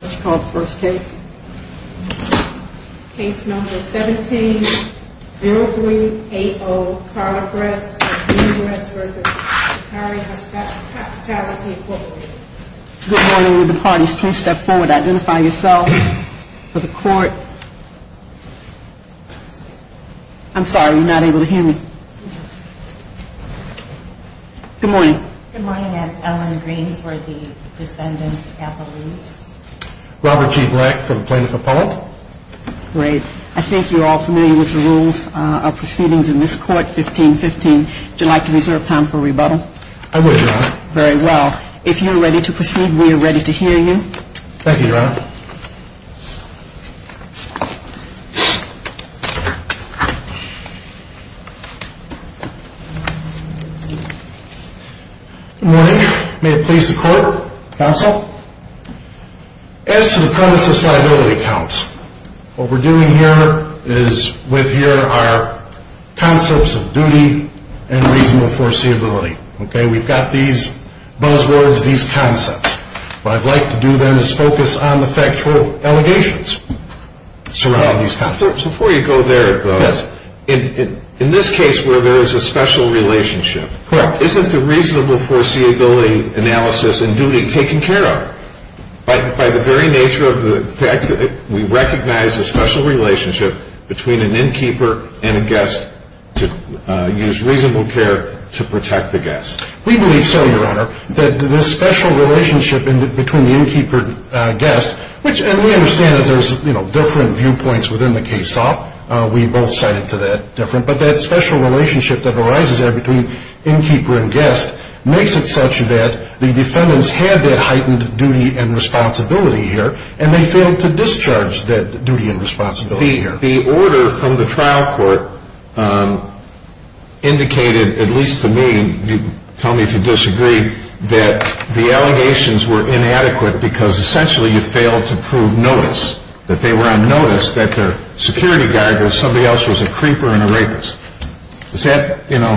Case number 17-0380, Carla Gress v. Lakhani Hospitality, Inc. Good morning, will the parties please step forward, identify yourselves for the court. I'm sorry, you're not able to hear me. Good morning. Good morning, I'm Ellen Green for the Defendant's Capitalese. Robert G. Black for the Plaintiff Appellate. Great. I think you're all familiar with the rules of proceedings in this court, 15-15. Would you like to reserve time for rebuttal? I would, Your Honor. Very well. If you're ready to proceed, we are ready to hear you. Thank you, Your Honor. Good morning, may it please the court, counsel. As to the premise of liability counts, what we're doing here is with here are concepts of duty and reasonable foreseeability. Okay, we've got these buzzwords, these concepts. What I'd like to do then is focus on the factual allegations surrounding these concepts. Before you go there, in this case where there is a special relationship, Correct. isn't the reasonable foreseeability analysis and duty taken care of by the very nature of the fact that we recognize a special relationship between an innkeeper and a guest to use reasonable care to protect the guest? We believe so, Your Honor, that this special relationship between the innkeeper and guest, and we understand that there's different viewpoints within the case law. We both cited to that different, but that special relationship that arises there between innkeeper and guest makes it such that the defendants had that heightened duty and responsibility here, and they failed to discharge that duty and responsibility here. The order from the trial court indicated, at least to me, tell me if you disagree, that the allegations were inadequate because essentially you failed to prove notice, that they were on notice, that their security guard or somebody else was a creeper and a rapist. Is that, you know?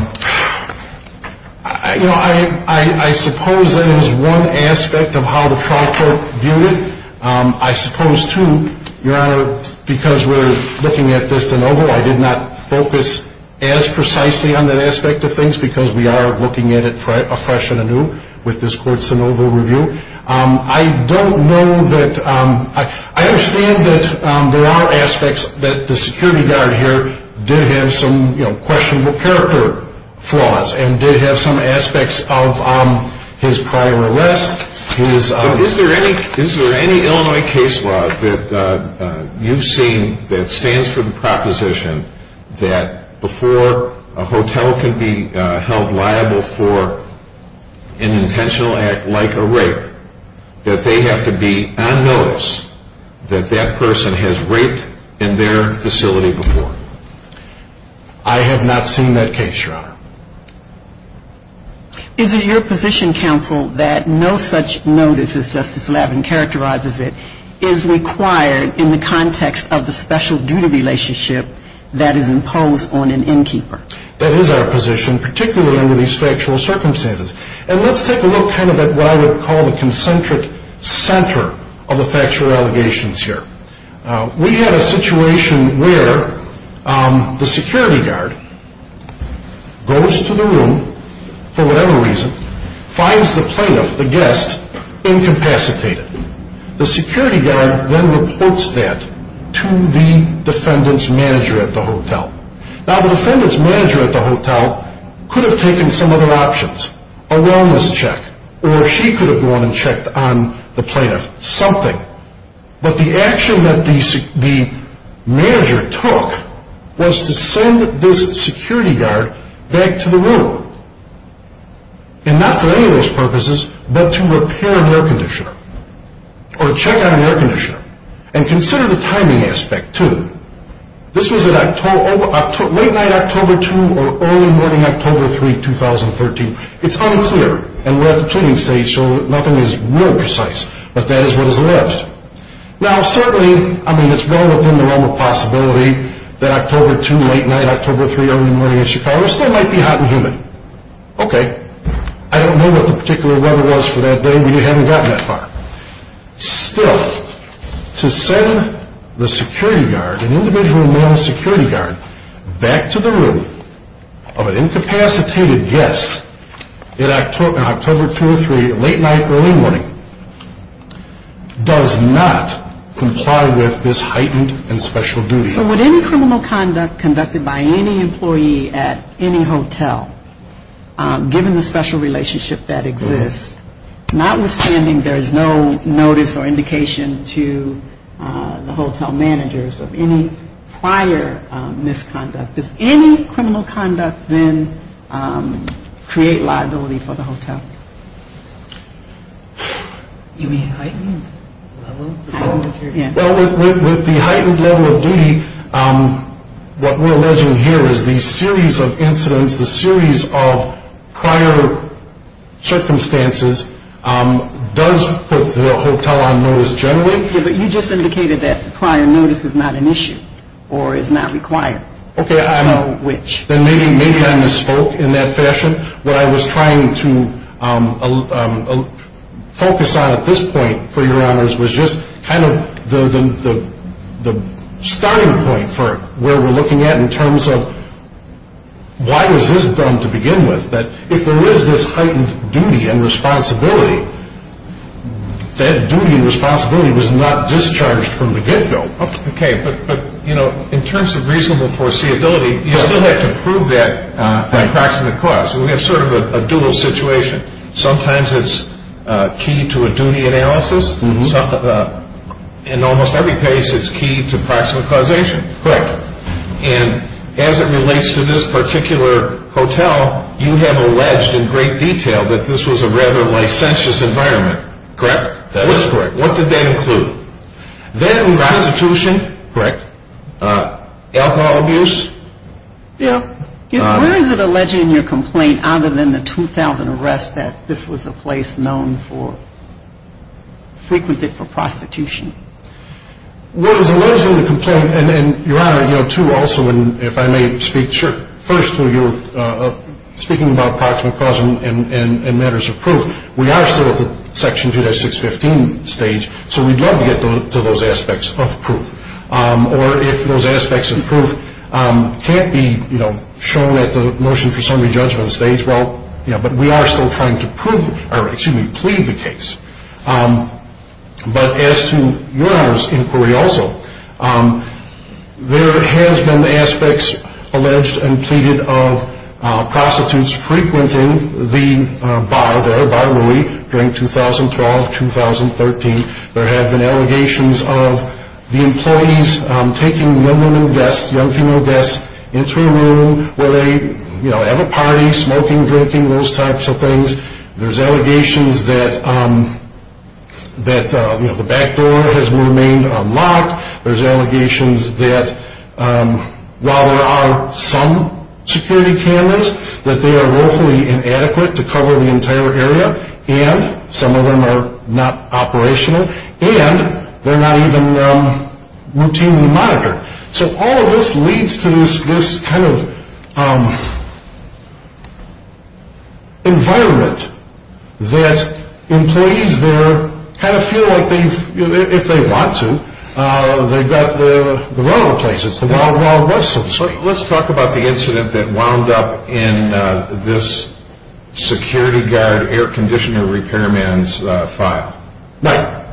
You know, I suppose that is one aspect of how the trial court viewed it. I suppose, too, Your Honor, because we're looking at this de novo, I did not focus as precisely on that aspect of things because we are looking at it afresh and anew with this court's de novo review. I don't know that, I understand that there are aspects that the security guard here did have some questionable character flaws and did have some aspects of his prior arrest. Is there any Illinois case law that you've seen that stands for the proposition that before a hotel can be held liable for an intentional act like a rape, that they have to be on notice that that person has raped in their facility before? I have not seen that case, Your Honor. Is it your position, counsel, that no such notice, as Justice Lavin characterizes it, is required in the context of the special duty relationship that is imposed on an innkeeper? That is our position, particularly under these factual circumstances. And let's take a look kind of at what I would call the concentric center of the factual allegations here. We had a situation where the security guard goes to the room for whatever reason, finds the plaintiff, the guest, incapacitated. The security guard then reports that to the defendant's manager at the hotel. Now the defendant's manager at the hotel could have taken some other options, a wellness check, or she could have gone and checked on the plaintiff, something. But the action that the manager took was to send this security guard back to the room. And not for any of those purposes, but to repair an air conditioner or check on an air conditioner. And consider the timing aspect, too. This was late night October 2 or early morning October 3, 2013. It's unclear, and we're at the cleaning stage, so nothing is real precise. But that is what is left. Now certainly, I mean, it's well within the realm of possibility that October 2, late night October 3, early in the morning in Chicago still might be hot and humid. Okay, I don't know what the particular weather was for that day, but you haven't gotten that far. Still, to send the security guard, an individual male security guard, back to the room of an incapacitated guest in October 2 or 3, late night, early morning, does not comply with this heightened and special duty. So would any criminal conduct conducted by any employee at any hotel, given the special relationship that exists, notwithstanding there is no notice or indication to the hotel managers of any prior misconduct, does any criminal conduct then create liability for the hotel? You mean heightened level of security? Well, with the heightened level of duty, what we're alleging here is the series of incidents, the series of prior circumstances, does put the hotel on notice generally. Yeah, but you just indicated that prior notice is not an issue or is not required. Okay, maybe I misspoke in that fashion. What I was trying to focus on at this point, for your honors, was just kind of the starting point for where we're looking at in terms of why was this done to begin with, that if there is this heightened duty and responsibility, that duty and responsibility was not discharged from the get-go. Okay, but in terms of reasonable foreseeability, you still have to prove that by proximate cause. We have sort of a dual situation. Sometimes it's key to a duty analysis. In almost every case, it's key to proximate causation. Correct. And as it relates to this particular hotel, you have alleged in great detail that this was a rather licentious environment. Correct? That is correct. What did that include? That includes prostitution. Correct. Alcohol abuse. Yeah. Where is it alleged in your complaint, other than the 2,000 arrests, that this was a place known for, frequented for prostitution? Well, it's alleged in the complaint, and your honor, you know, too, also, and if I may speak, sure. First, you're speaking about proximate cause and matters of proof. We are still at the Section 2-615 stage, so we'd love to get to those aspects of proof. Or if those aspects of proof can't be, you know, shown at the motion for summary judgment stage, well, you know, but we are still trying to prove or, excuse me, plead the case. But as to your honor's inquiry also, there has been aspects alleged and pleaded of prostitutes frequenting the bar there, Bar Louie, during 2012-2013. There have been allegations of the employees taking young women guests, young female guests, into a room where they, you know, have a party, smoking, drinking, those types of things. There's allegations that, you know, the back door has remained unlocked. There's allegations that while there are some security cameras, that they are woefully inadequate to cover the entire area, and some of them are not operational, and they're not even routinely monitored. So all of this leads to this kind of environment that employees there kind of feel like they've, you know, if they want to, they've got the relevant places, the wild, wild west, so to speak. Let's talk about the incident that wound up in this security guard air conditioner repairman's file. Mike.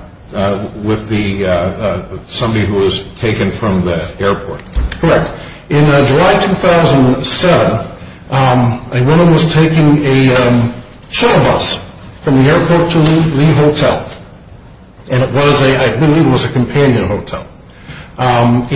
With the, somebody who was taken from the airport. Correct. In July 2007, a woman was taking a shuttle bus from the airport to the hotel. And it was a, I believe it was a companion hotel. And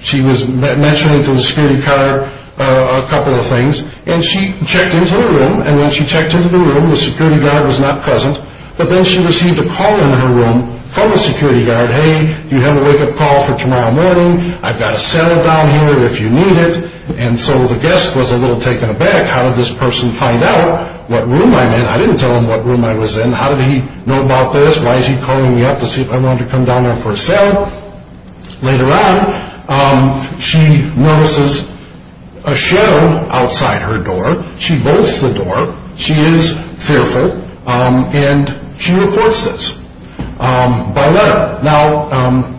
she was mentioning to the security guard a couple of things. And she checked into the room. And when she checked into the room, the security guard was not present. But then she received a call in her room from the security guard. Hey, do you have a wake-up call for tomorrow morning? I've got a cell down here if you need it. And so the guest was a little taken aback. How did this person find out what room I'm in? I didn't tell him what room I was in. How did he know about this? Why is he calling me up to see if I wanted to come down there for a cell? Later on, she notices a shadow outside her door. She bolts the door. She is fearful. And she reports this by letter. Now,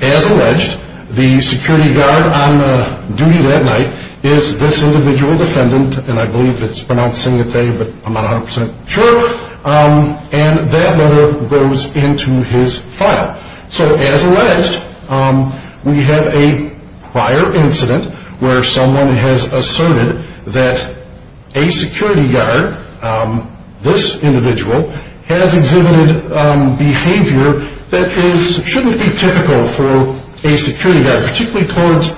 as alleged, the security guard on duty that night is this individual defendant. And I believe it's pronounced Singatay, but I'm not 100% sure. And that letter goes into his file. So, as alleged, we have a prior incident where someone has asserted that a security guard, this individual, has exhibited behavior that shouldn't be typical for a security guard, particularly towards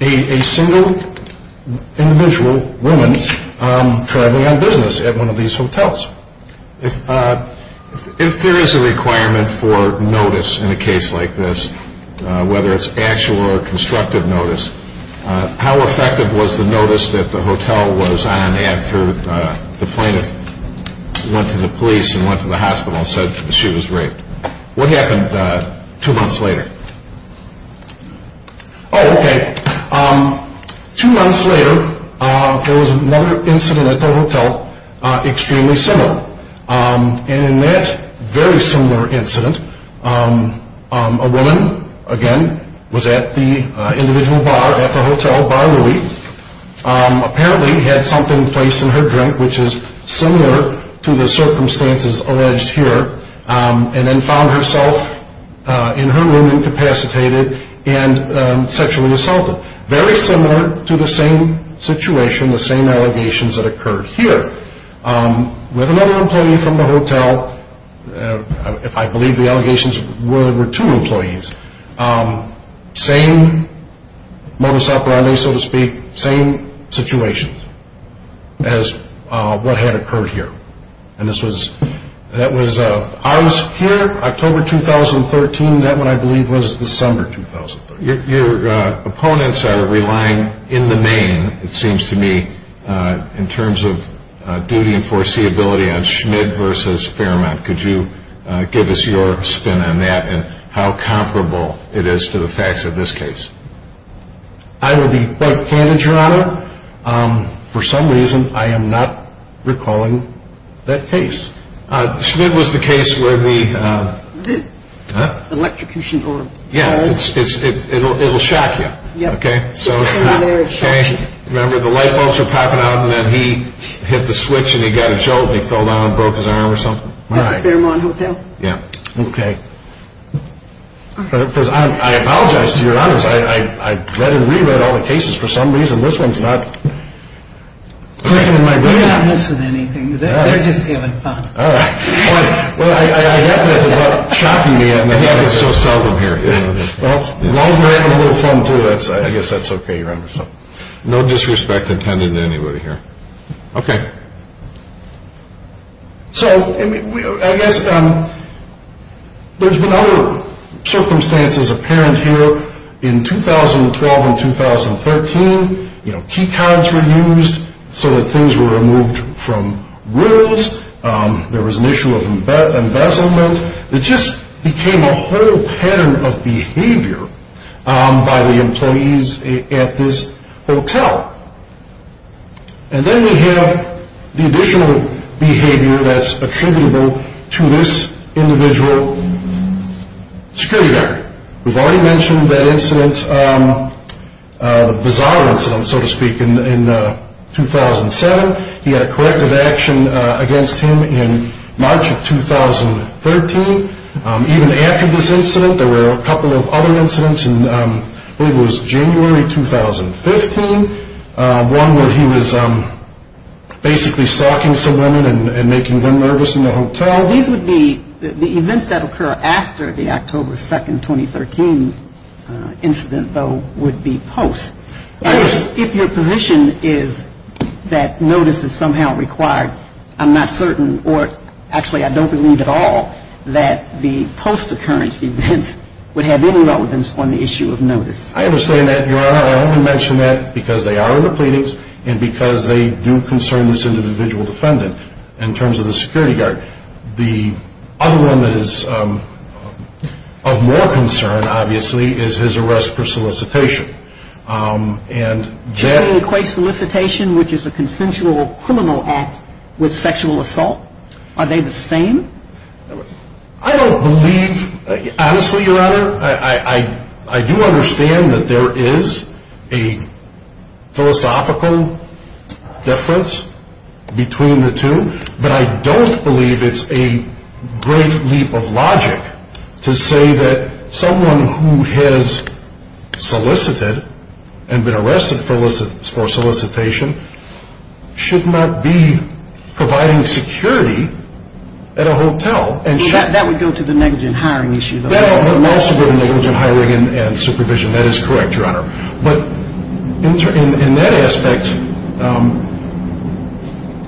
a single individual woman traveling on business at one of these hotels. If there is a requirement for notice in a case like this, whether it's actual or constructive notice, how effective was the notice that the hotel was on after the plaintiff went to the police and went to the hospital and said that she was raped? What happened two months later? Oh, okay. Two months later, there was another incident at the hotel extremely similar. And in that very similar incident, a woman, again, was at the individual bar at the hotel, Bar Louie, apparently had something placed in her drink, which is similar to the circumstances alleged here, and then found herself in her room incapacitated and sexually assaulted. Very similar to the same situation, the same allegations that occurred here. With another employee from the hotel, if I believe the allegations were two employees, same modus operandi, so to speak, same situation as what had occurred here. And this was, that was, I was here October 2013, that one I believe was December 2013. Your opponents are relying in the main, it seems to me, in terms of duty and foreseeability on Schmid versus Fairmont. Could you give us your spin on that and how comparable it is to the facts of this case? I will be quite candid, Your Honor. For some reason, I am not recalling that case. Schmid was the case where the... Electrocution or... Yeah, it will shock you. Yep. Okay? Remember the light bulbs were popping out and then he hit the switch and he got a jolt and he fell down and broke his arm or something? At the Fairmont Hotel? Yeah. Okay. I apologize to Your Honors. I read and re-read all the cases. For some reason, this one's not... They're not missing anything. They're just having fun. All right. Well, I get that it's about shocking me and that happens so seldom here. Well, while we're having a little fun, too, I guess that's okay, Your Honor. No disrespect intended to anybody here. Okay. So, I guess there's been other circumstances apparent here in 2012 and 2013. You know, key cards were used so that things were removed from rules. There was an issue of embezzlement. It just became a whole pattern of behavior by the employees at this hotel. And then we have the additional behavior that's attributable to this individual's security record. We've already mentioned that incident, the bizarre incident, so to speak, in 2007. He had a corrective action against him in March of 2013. Even after this incident, there were a couple of other incidents, and I believe it was January 2015, one where he was basically stalking some women and making them nervous in the hotel. These would be the events that occur after the October 2nd, 2013 incident, though, would be post. If your position is that notice is somehow required, I'm not certain, or actually I don't believe at all that the post-occurrence events would have any relevance on the issue of notice. I understand that, Your Honor. I only mention that because they are in the pleadings and because they do concern this individual defendant in terms of the security guard. The other one that is of more concern, obviously, is his arrest for solicitation. Does he equate solicitation, which is a consensual criminal act, with sexual assault? Are they the same? I don't believe, honestly, Your Honor. I do understand that there is a philosophical difference between the two, but I don't believe it's a great leap of logic to say that someone who has solicited and been arrested for solicitation should not be providing security at a hotel. That would go to the negligent hiring issue, though. That would also go to negligent hiring and supervision. That is correct, Your Honor. But in that aspect,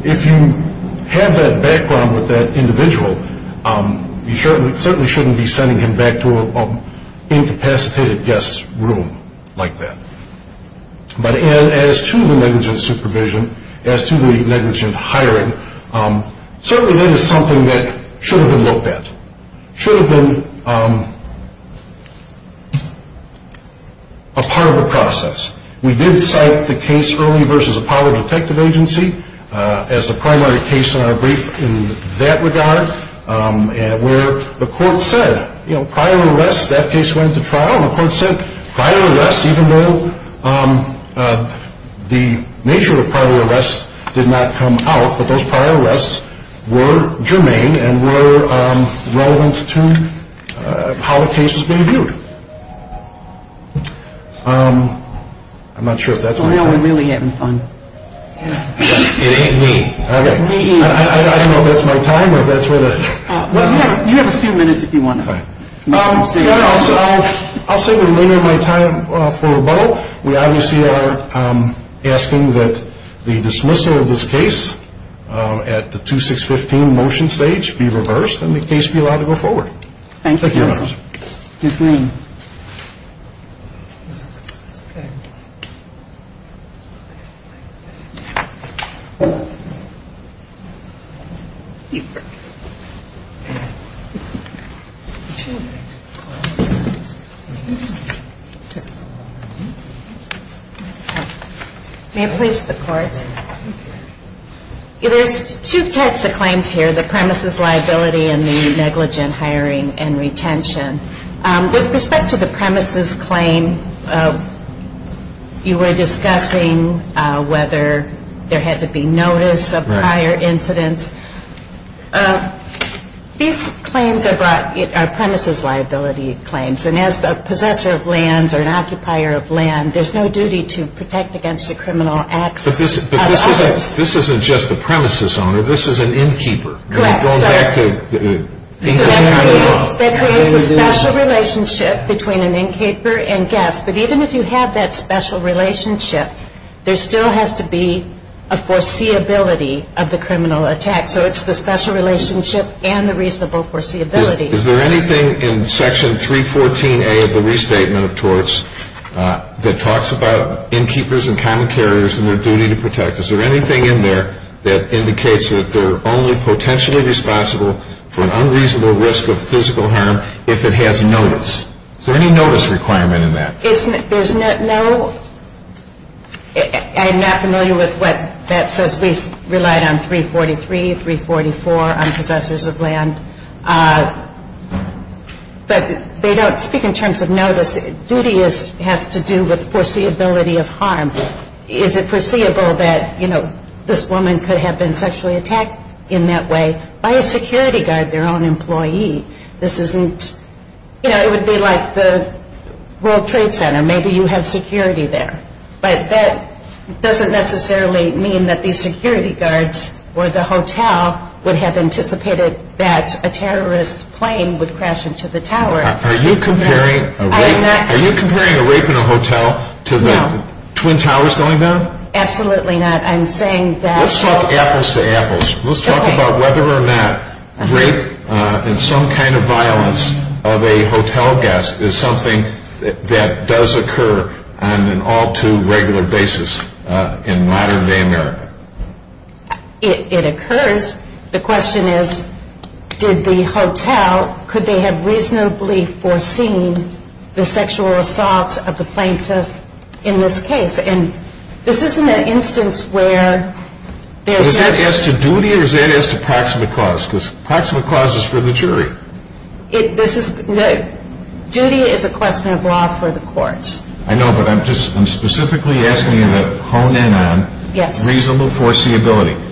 if you have that background with that individual, you certainly shouldn't be sending him back to an incapacitated guest room like that. But as to the negligent supervision, as to the negligent hiring, certainly that is something that should have been looked at, should have been a part of the process. We did cite the case early versus Apollo Detective Agency as a primary case in our brief in that regard, where the court said prior arrests, that case went to trial, and the court said prior arrests, even though the nature of the prior arrests did not come out, that those prior arrests were germane and were relevant to how the case was being viewed. I'm not sure if that's my time. So now we're really having fun. It ain't me. Okay. It ain't me either. I don't know if that's my time or if that's where the... You have a few minutes if you want to... I'll say the remainder of my time for rebuttal. We obviously are asking that the dismissal of this case at the 2-6-15 motion stage be reversed and the case be allowed to go forward. Thank you, counsel. Ms. Green. May it please the court. There's two types of claims here, the premises liability and the negligent hiring and retention. With respect to the premises claim, you were discussing whether there had to be notice of prior incidents. These claims are brought, are premises liability claims. And as a possessor of lands or an occupier of land, there's no duty to protect against the criminal acts of others. But this isn't just a premises owner. This is an innkeeper. Correct. So that creates a special relationship between an innkeeper and guests. But even if you have that special relationship, there still has to be a foreseeability of the criminal attack. So it's the special relationship and the reasonable foreseeability. Is there anything in Section 314A of the Restatement of Torts that talks about innkeepers and common carriers and their duty to protect? Is there anything in there that indicates that they're only potentially responsible for an unreasonable risk of physical harm if it has notice? Is there any notice requirement in that? There's no – I'm not familiar with what that says. We relied on 343, 344 on possessors of land. But they don't speak in terms of notice. Duty has to do with foreseeability of harm. Is it foreseeable that, you know, this woman could have been sexually attacked in that way by a security guard, their own employee? This isn't – you know, it would be like the World Trade Center. Maybe you have security there. But that doesn't necessarily mean that the security guards or the hotel would have anticipated that a terrorist plane would crash into the tower. Are you comparing a rape in a hotel to the Twin Towers going down? Absolutely not. I'm saying that – Let's talk apples to apples. Let's talk about whether or not rape and some kind of violence of a hotel guest is something that does occur on an all-too-regular basis in modern-day America. It occurs. The question is, did the hotel – could they have reasonably foreseen the sexual assault of the plaintiff in this case? And this isn't an instance where there's just – Is that as to duty or is that as to proximate cause? Because proximate cause is for the jury. This is – duty is a question of law for the courts. I know, but I'm just – I'm specifically asking you to hone in on reasonable foreseeability.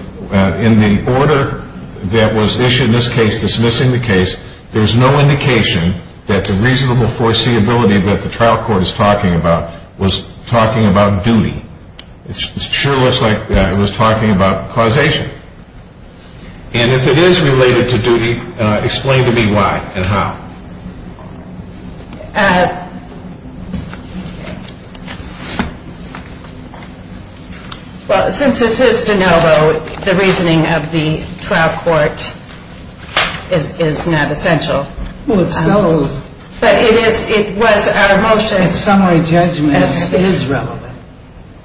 In the order that was issued in this case dismissing the case, there's no indication that the reasonable foreseeability that the trial court is talking about was talking about duty. It sure looks like it was talking about causation. And if it is related to duty, explain to me why and how. Well, since this is de novo, the reasoning of the trial court is not essential. Well, it still is. But it was our motion. In summary, judgment is relevant.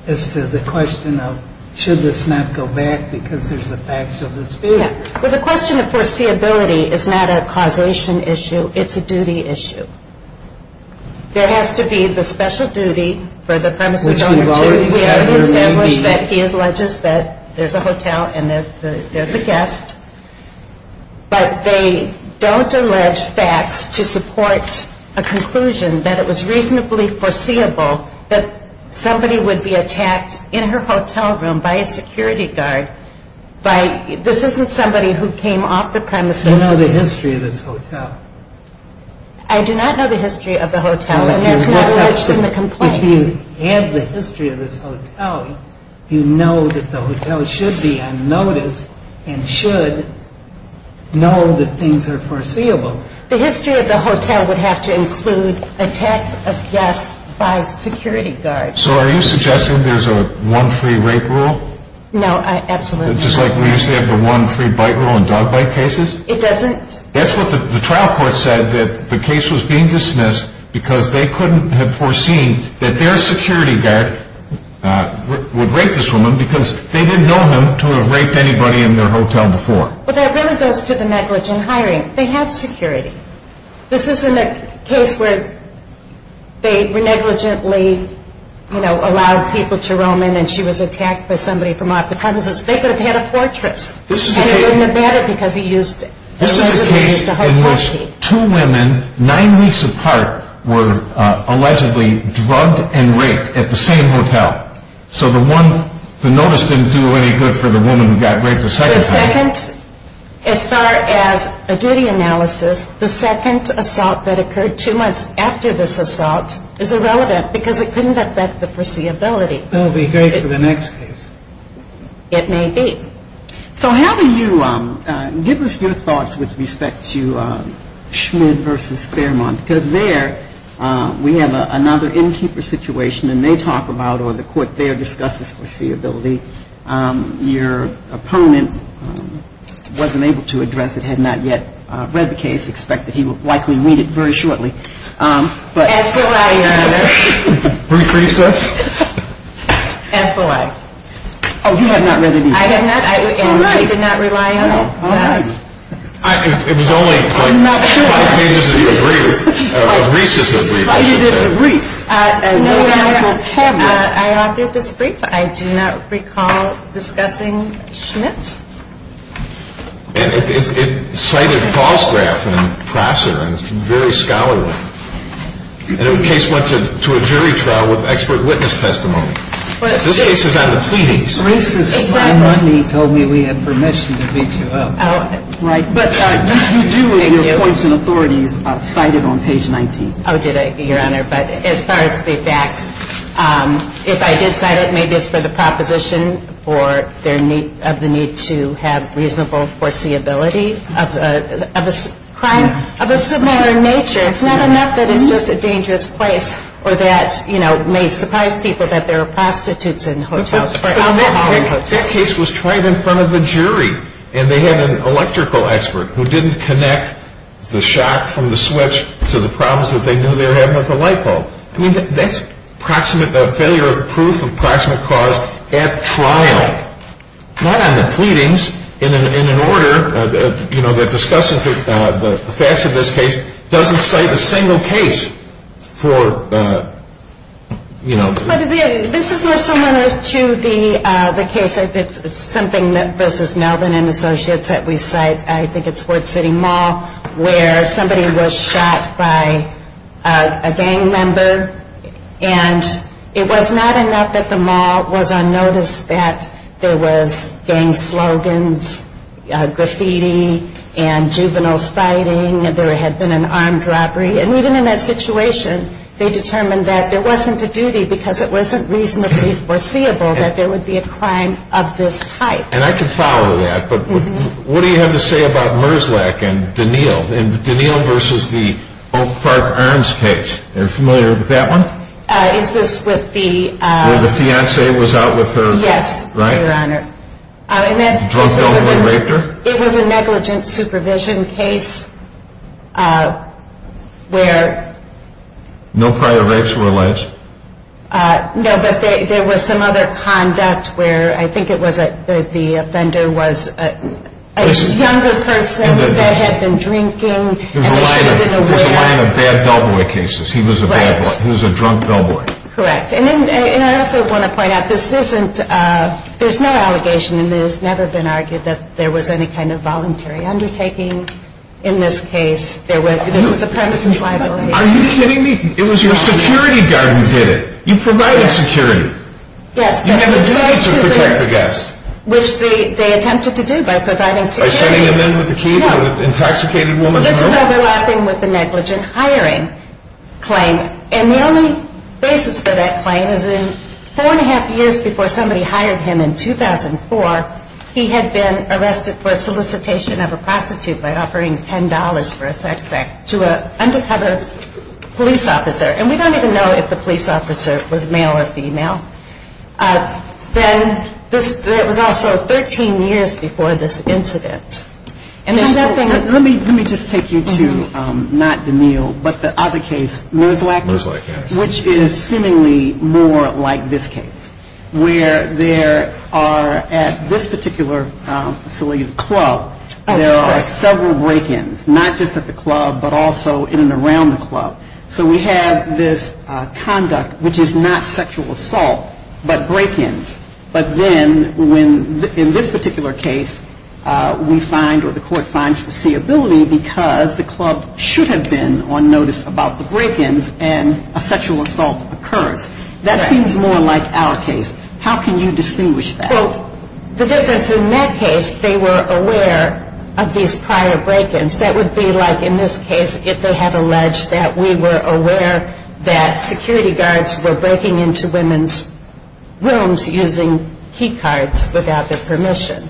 As to the question of should this not go back because there's a factual dispute. Yeah. Well, the question of foreseeability is not a causation issue. It's a duty issue. There has to be the special duty for the premises owner to establish that he alleges that there's a hotel and that there's a guest. But they don't allege facts to support a conclusion that it was reasonably foreseeable that somebody would be attacked in her hotel room by a security guard by – this isn't somebody who came off the premises. You don't know the history of this hotel. I do not know the history of the hotel. And that's not alleged in the complaint. If you have the history of this hotel, you know that the hotel should be on notice and should know that things are foreseeable. The history of the hotel would have to include attacks of guests by security guards. So are you suggesting there's a one-free-rape rule? No, absolutely not. Just like we used to have the one-free-bite rule in dog bite cases? It doesn't. That's what the trial court said, that the case was being dismissed because they couldn't have foreseen that their security guard would rape this woman because they didn't know him to have raped anybody in their hotel before. Well, that really goes to the negligent hiring. They have security. This isn't a case where they negligently, you know, allowed people to roam in and she was attacked by somebody from off the premises. They could have had a fortress. This is a case in which two women, nine weeks apart, were allegedly drugged and raped at the same hotel. So the notice didn't do any good for the woman who got raped the second time. As far as a duty analysis, the second assault that occurred two months after this assault is irrelevant because it couldn't affect the foreseeability. That would be great for the next case. It may be. So how do you give us your thoughts with respect to Schmidt v. Fairmont? Because there we have another innkeeper situation, and they talk about or the court there discusses foreseeability. Your opponent wasn't able to address it, had not yet read the case, expect that he would likely read it very shortly. As will I, Your Honor. Brief recess. As will I. Oh, you have not read it either. I have not, and I did not rely on it. All right. It was only like five pages of your brief. I'm not sure. A recessive brief, I should say. But you did a brief. No, Your Honor. I authored this brief. I do not recall discussing Schmidt. And it cited Vosgraf and Prosser, and it's very scholarly. And the case went to a jury trial with expert witness testimony. This case is on the pleadings. It's racist. Exactly. My money told me we had permission to beat you up. Right. Thank you. But you do, in your courts and authorities, cite it on page 19. Oh, did I, Your Honor? But as far as the facts, if I did cite it, maybe it's for the proposition of the need to have reasonable foreseeability of a crime of a similar nature. It's not enough that it's just a dangerous place or that, you know, may surprise people that there are prostitutes in hotels. That case was tried in front of a jury, and they had an electrical expert who didn't connect the shock from the switch to the problems that they knew they were having with the light bulb. I mean, that's approximate failure of proof of proximate cause at trial, not on the pleadings, in an order, you know, that discusses the facts of this case, doesn't cite a single case for, you know. But this is more similar to the case, something that versus Melvin and Associates that we cite, I think it's Fort City Mall, where somebody was shot by a gang member, and it was not enough that the mall was on notice that there was gang slogans, graffiti, and juveniles fighting, and there had been an armed robbery. And even in that situation, they determined that there wasn't a duty because it wasn't reasonably foreseeable that there would be a crime of this type. And I can follow that, but what do you have to say about Merzlach and Danil versus the Oak Park Arms case? Are you familiar with that one? Is this with the... Where the fiance was out with her... Yes, Your Honor. Right? No prior rapes were alleged? No, but there was some other conduct where I think it was that the offender was a younger person that had been drinking... It was a line of bad bellboy cases. He was a drunk bellboy. Correct. And I also want to point out, there's no allegation and it has never been argued that there was any kind of voluntary undertaking in this case. This is a premises liability. Are you kidding me? It was your security guard who did it. You provided security. Yes. You had a duty to protect the guests. Which they attempted to do by providing security. By sending them in with a key to an intoxicated woman? This is overlapping with the negligent hiring claim. And the only basis for that claim is in four and a half years before somebody hired him in 2004, he had been arrested for solicitation of a prostitute by offering $10 for a sex act to an undercover police officer. And we don't even know if the police officer was male or female. Then, it was also 13 years before this incident. Let me just take you to, not Daniel, but the other case, which is seemingly more like this case. Where there are at this particular facility, the club, there are several break-ins, not just at the club, but also in and around the club. So we have this conduct, which is not sexual assault, but break-ins. But then, in this particular case, we find or the court finds foreseeability because the club should have been on notice about the break-ins and a sexual assault occurrence. That seems more like our case. How can you distinguish that? Well, the difference in that case, they were aware of these prior break-ins. That would be like in this case, if they had alleged that we were aware that security guards were breaking into women's rooms using key cards without their permission.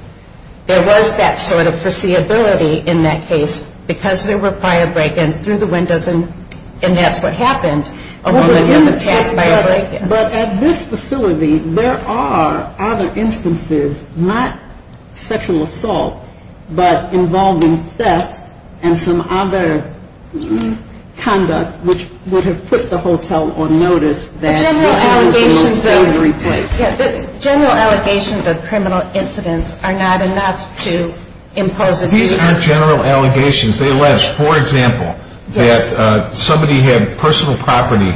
There was that sort of foreseeability in that case because there were prior break-ins through the windows. And that's what happened. A woman was attacked by a break-in. But at this facility, there are other instances, not sexual assault, but involving theft and some other conduct, which would have put the hotel on notice. General allegations of criminal incidents are not enough to impose a duty. These aren't general allegations. They allege, for example, that somebody had personal property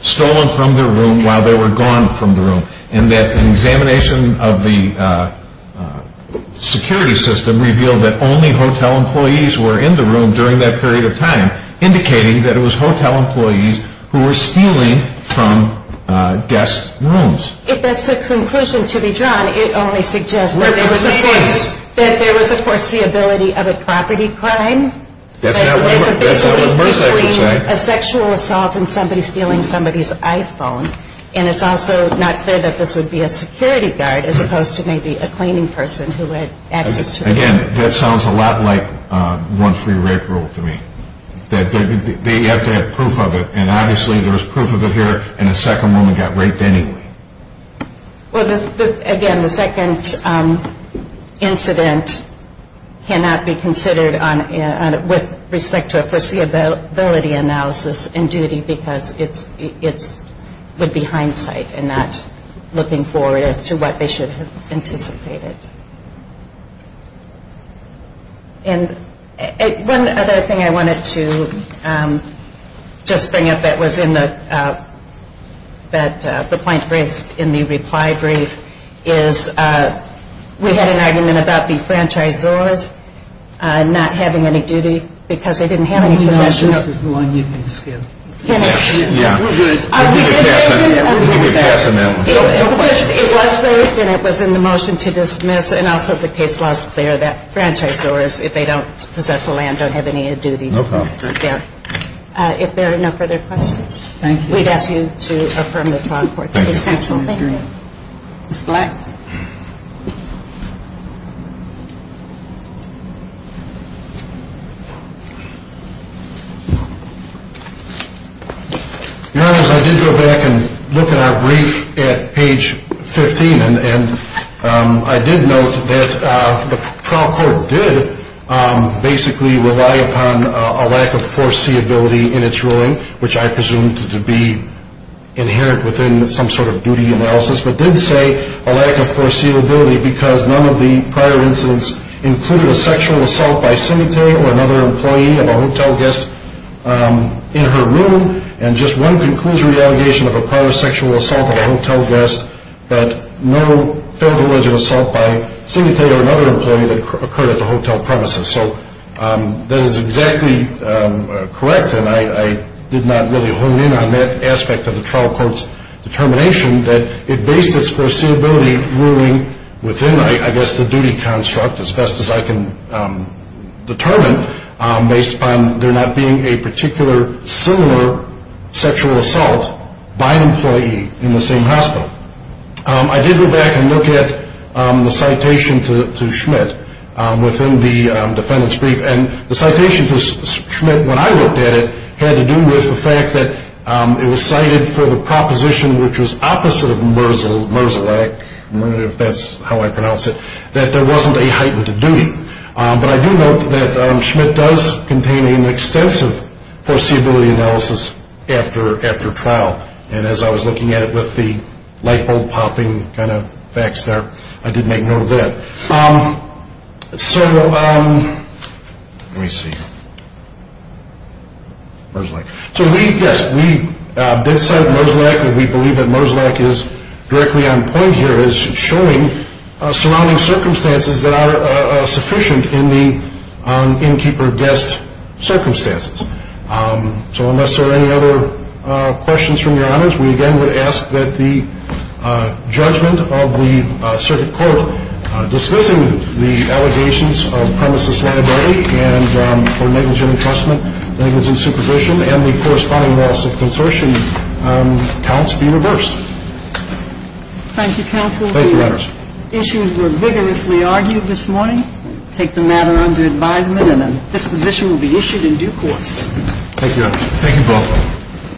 stolen from their room while they were gone from the room. And that an examination of the security system revealed that only hotel employees were in the room during that period of time, indicating that it was hotel employees who were stealing from guest rooms. If that's the conclusion to be drawn, it only suggests that there was, of course, the ability of a property crime. That's not what I was about to say. A sexual assault and somebody stealing somebody's iPhone. And it's also not clear that this would be a security guard as opposed to maybe a cleaning person who had access to a room. Again, that sounds a lot like one-free-rape rule to me. They have to have proof of it. And obviously, there was proof of it here, and a second woman got raped anyway. Well, again, the second incident cannot be considered with respect to a foreseeability analysis and duty because it would be hindsight and not looking forward as to what they should have anticipated. And one other thing I wanted to just bring up that was in the point raised in the reply brief is we had an argument about the franchisors not having any duty because they didn't have any possessions. I think this is the one you can skip. Yeah. We'll give you a pass on that one. It was raised and it was in the motion to dismiss. And also, the case law is clear that franchisors, if they don't possess a land, don't have any duty. No problem. Yeah. If there are no further questions, we'd ask you to affirm the trial court's dismissal. Thank you. Ms. Black? Your Honors, I did go back and look at our brief at page 15, and I did note that the trial court did basically rely upon a lack of foreseeability in its ruling, which I presumed to be inherent within some sort of duty analysis, but did say a lack of foreseeability because none of the prior incidents included a sexual assault by Cemetery or another employee of a hotel guest in her room, and just one conclusionary allegation of a prior sexual assault of a hotel guest, but no federal alleged assault by Cemetery or another employee that occurred at the hotel premises. So that is exactly correct, and I did not really hone in on that aspect of the trial court's determination that it based its foreseeability ruling within, I guess, the duty construct, as best as I can determine, based upon there not being a particular similar sexual assault by an employee in the same hospital. I did go back and look at the citation to Schmidt within the defendant's brief, and the citation to Schmidt, when I looked at it, had to do with the fact that it was cited for the proposition, which was opposite of Merzlach, if that's how I pronounce it, that there wasn't a heightened duty. But I do note that Schmidt does contain an extensive foreseeability analysis after trial, and as I was looking at it with the light bulb popping kind of facts there, I did make note of that. So, let me see. Merzlach. So we, yes, we did cite Merzlach, and we believe that Merzlach is directly on point here as showing surrounding circumstances that are sufficient in the innkeeper guest circumstances. So unless there are any other questions from your honors, we again would ask that the judgment of the circuit court dismissing the allegations of premises liability and for negligent entrustment, negligent supervision, and the corresponding loss of consortium counts be reversed. Thank you, counsel. Thank you, honors. The issues were vigorously argued this morning. Take the matter under advisement, and a disposition will be issued in due course. Thank you, honors. Thank you both.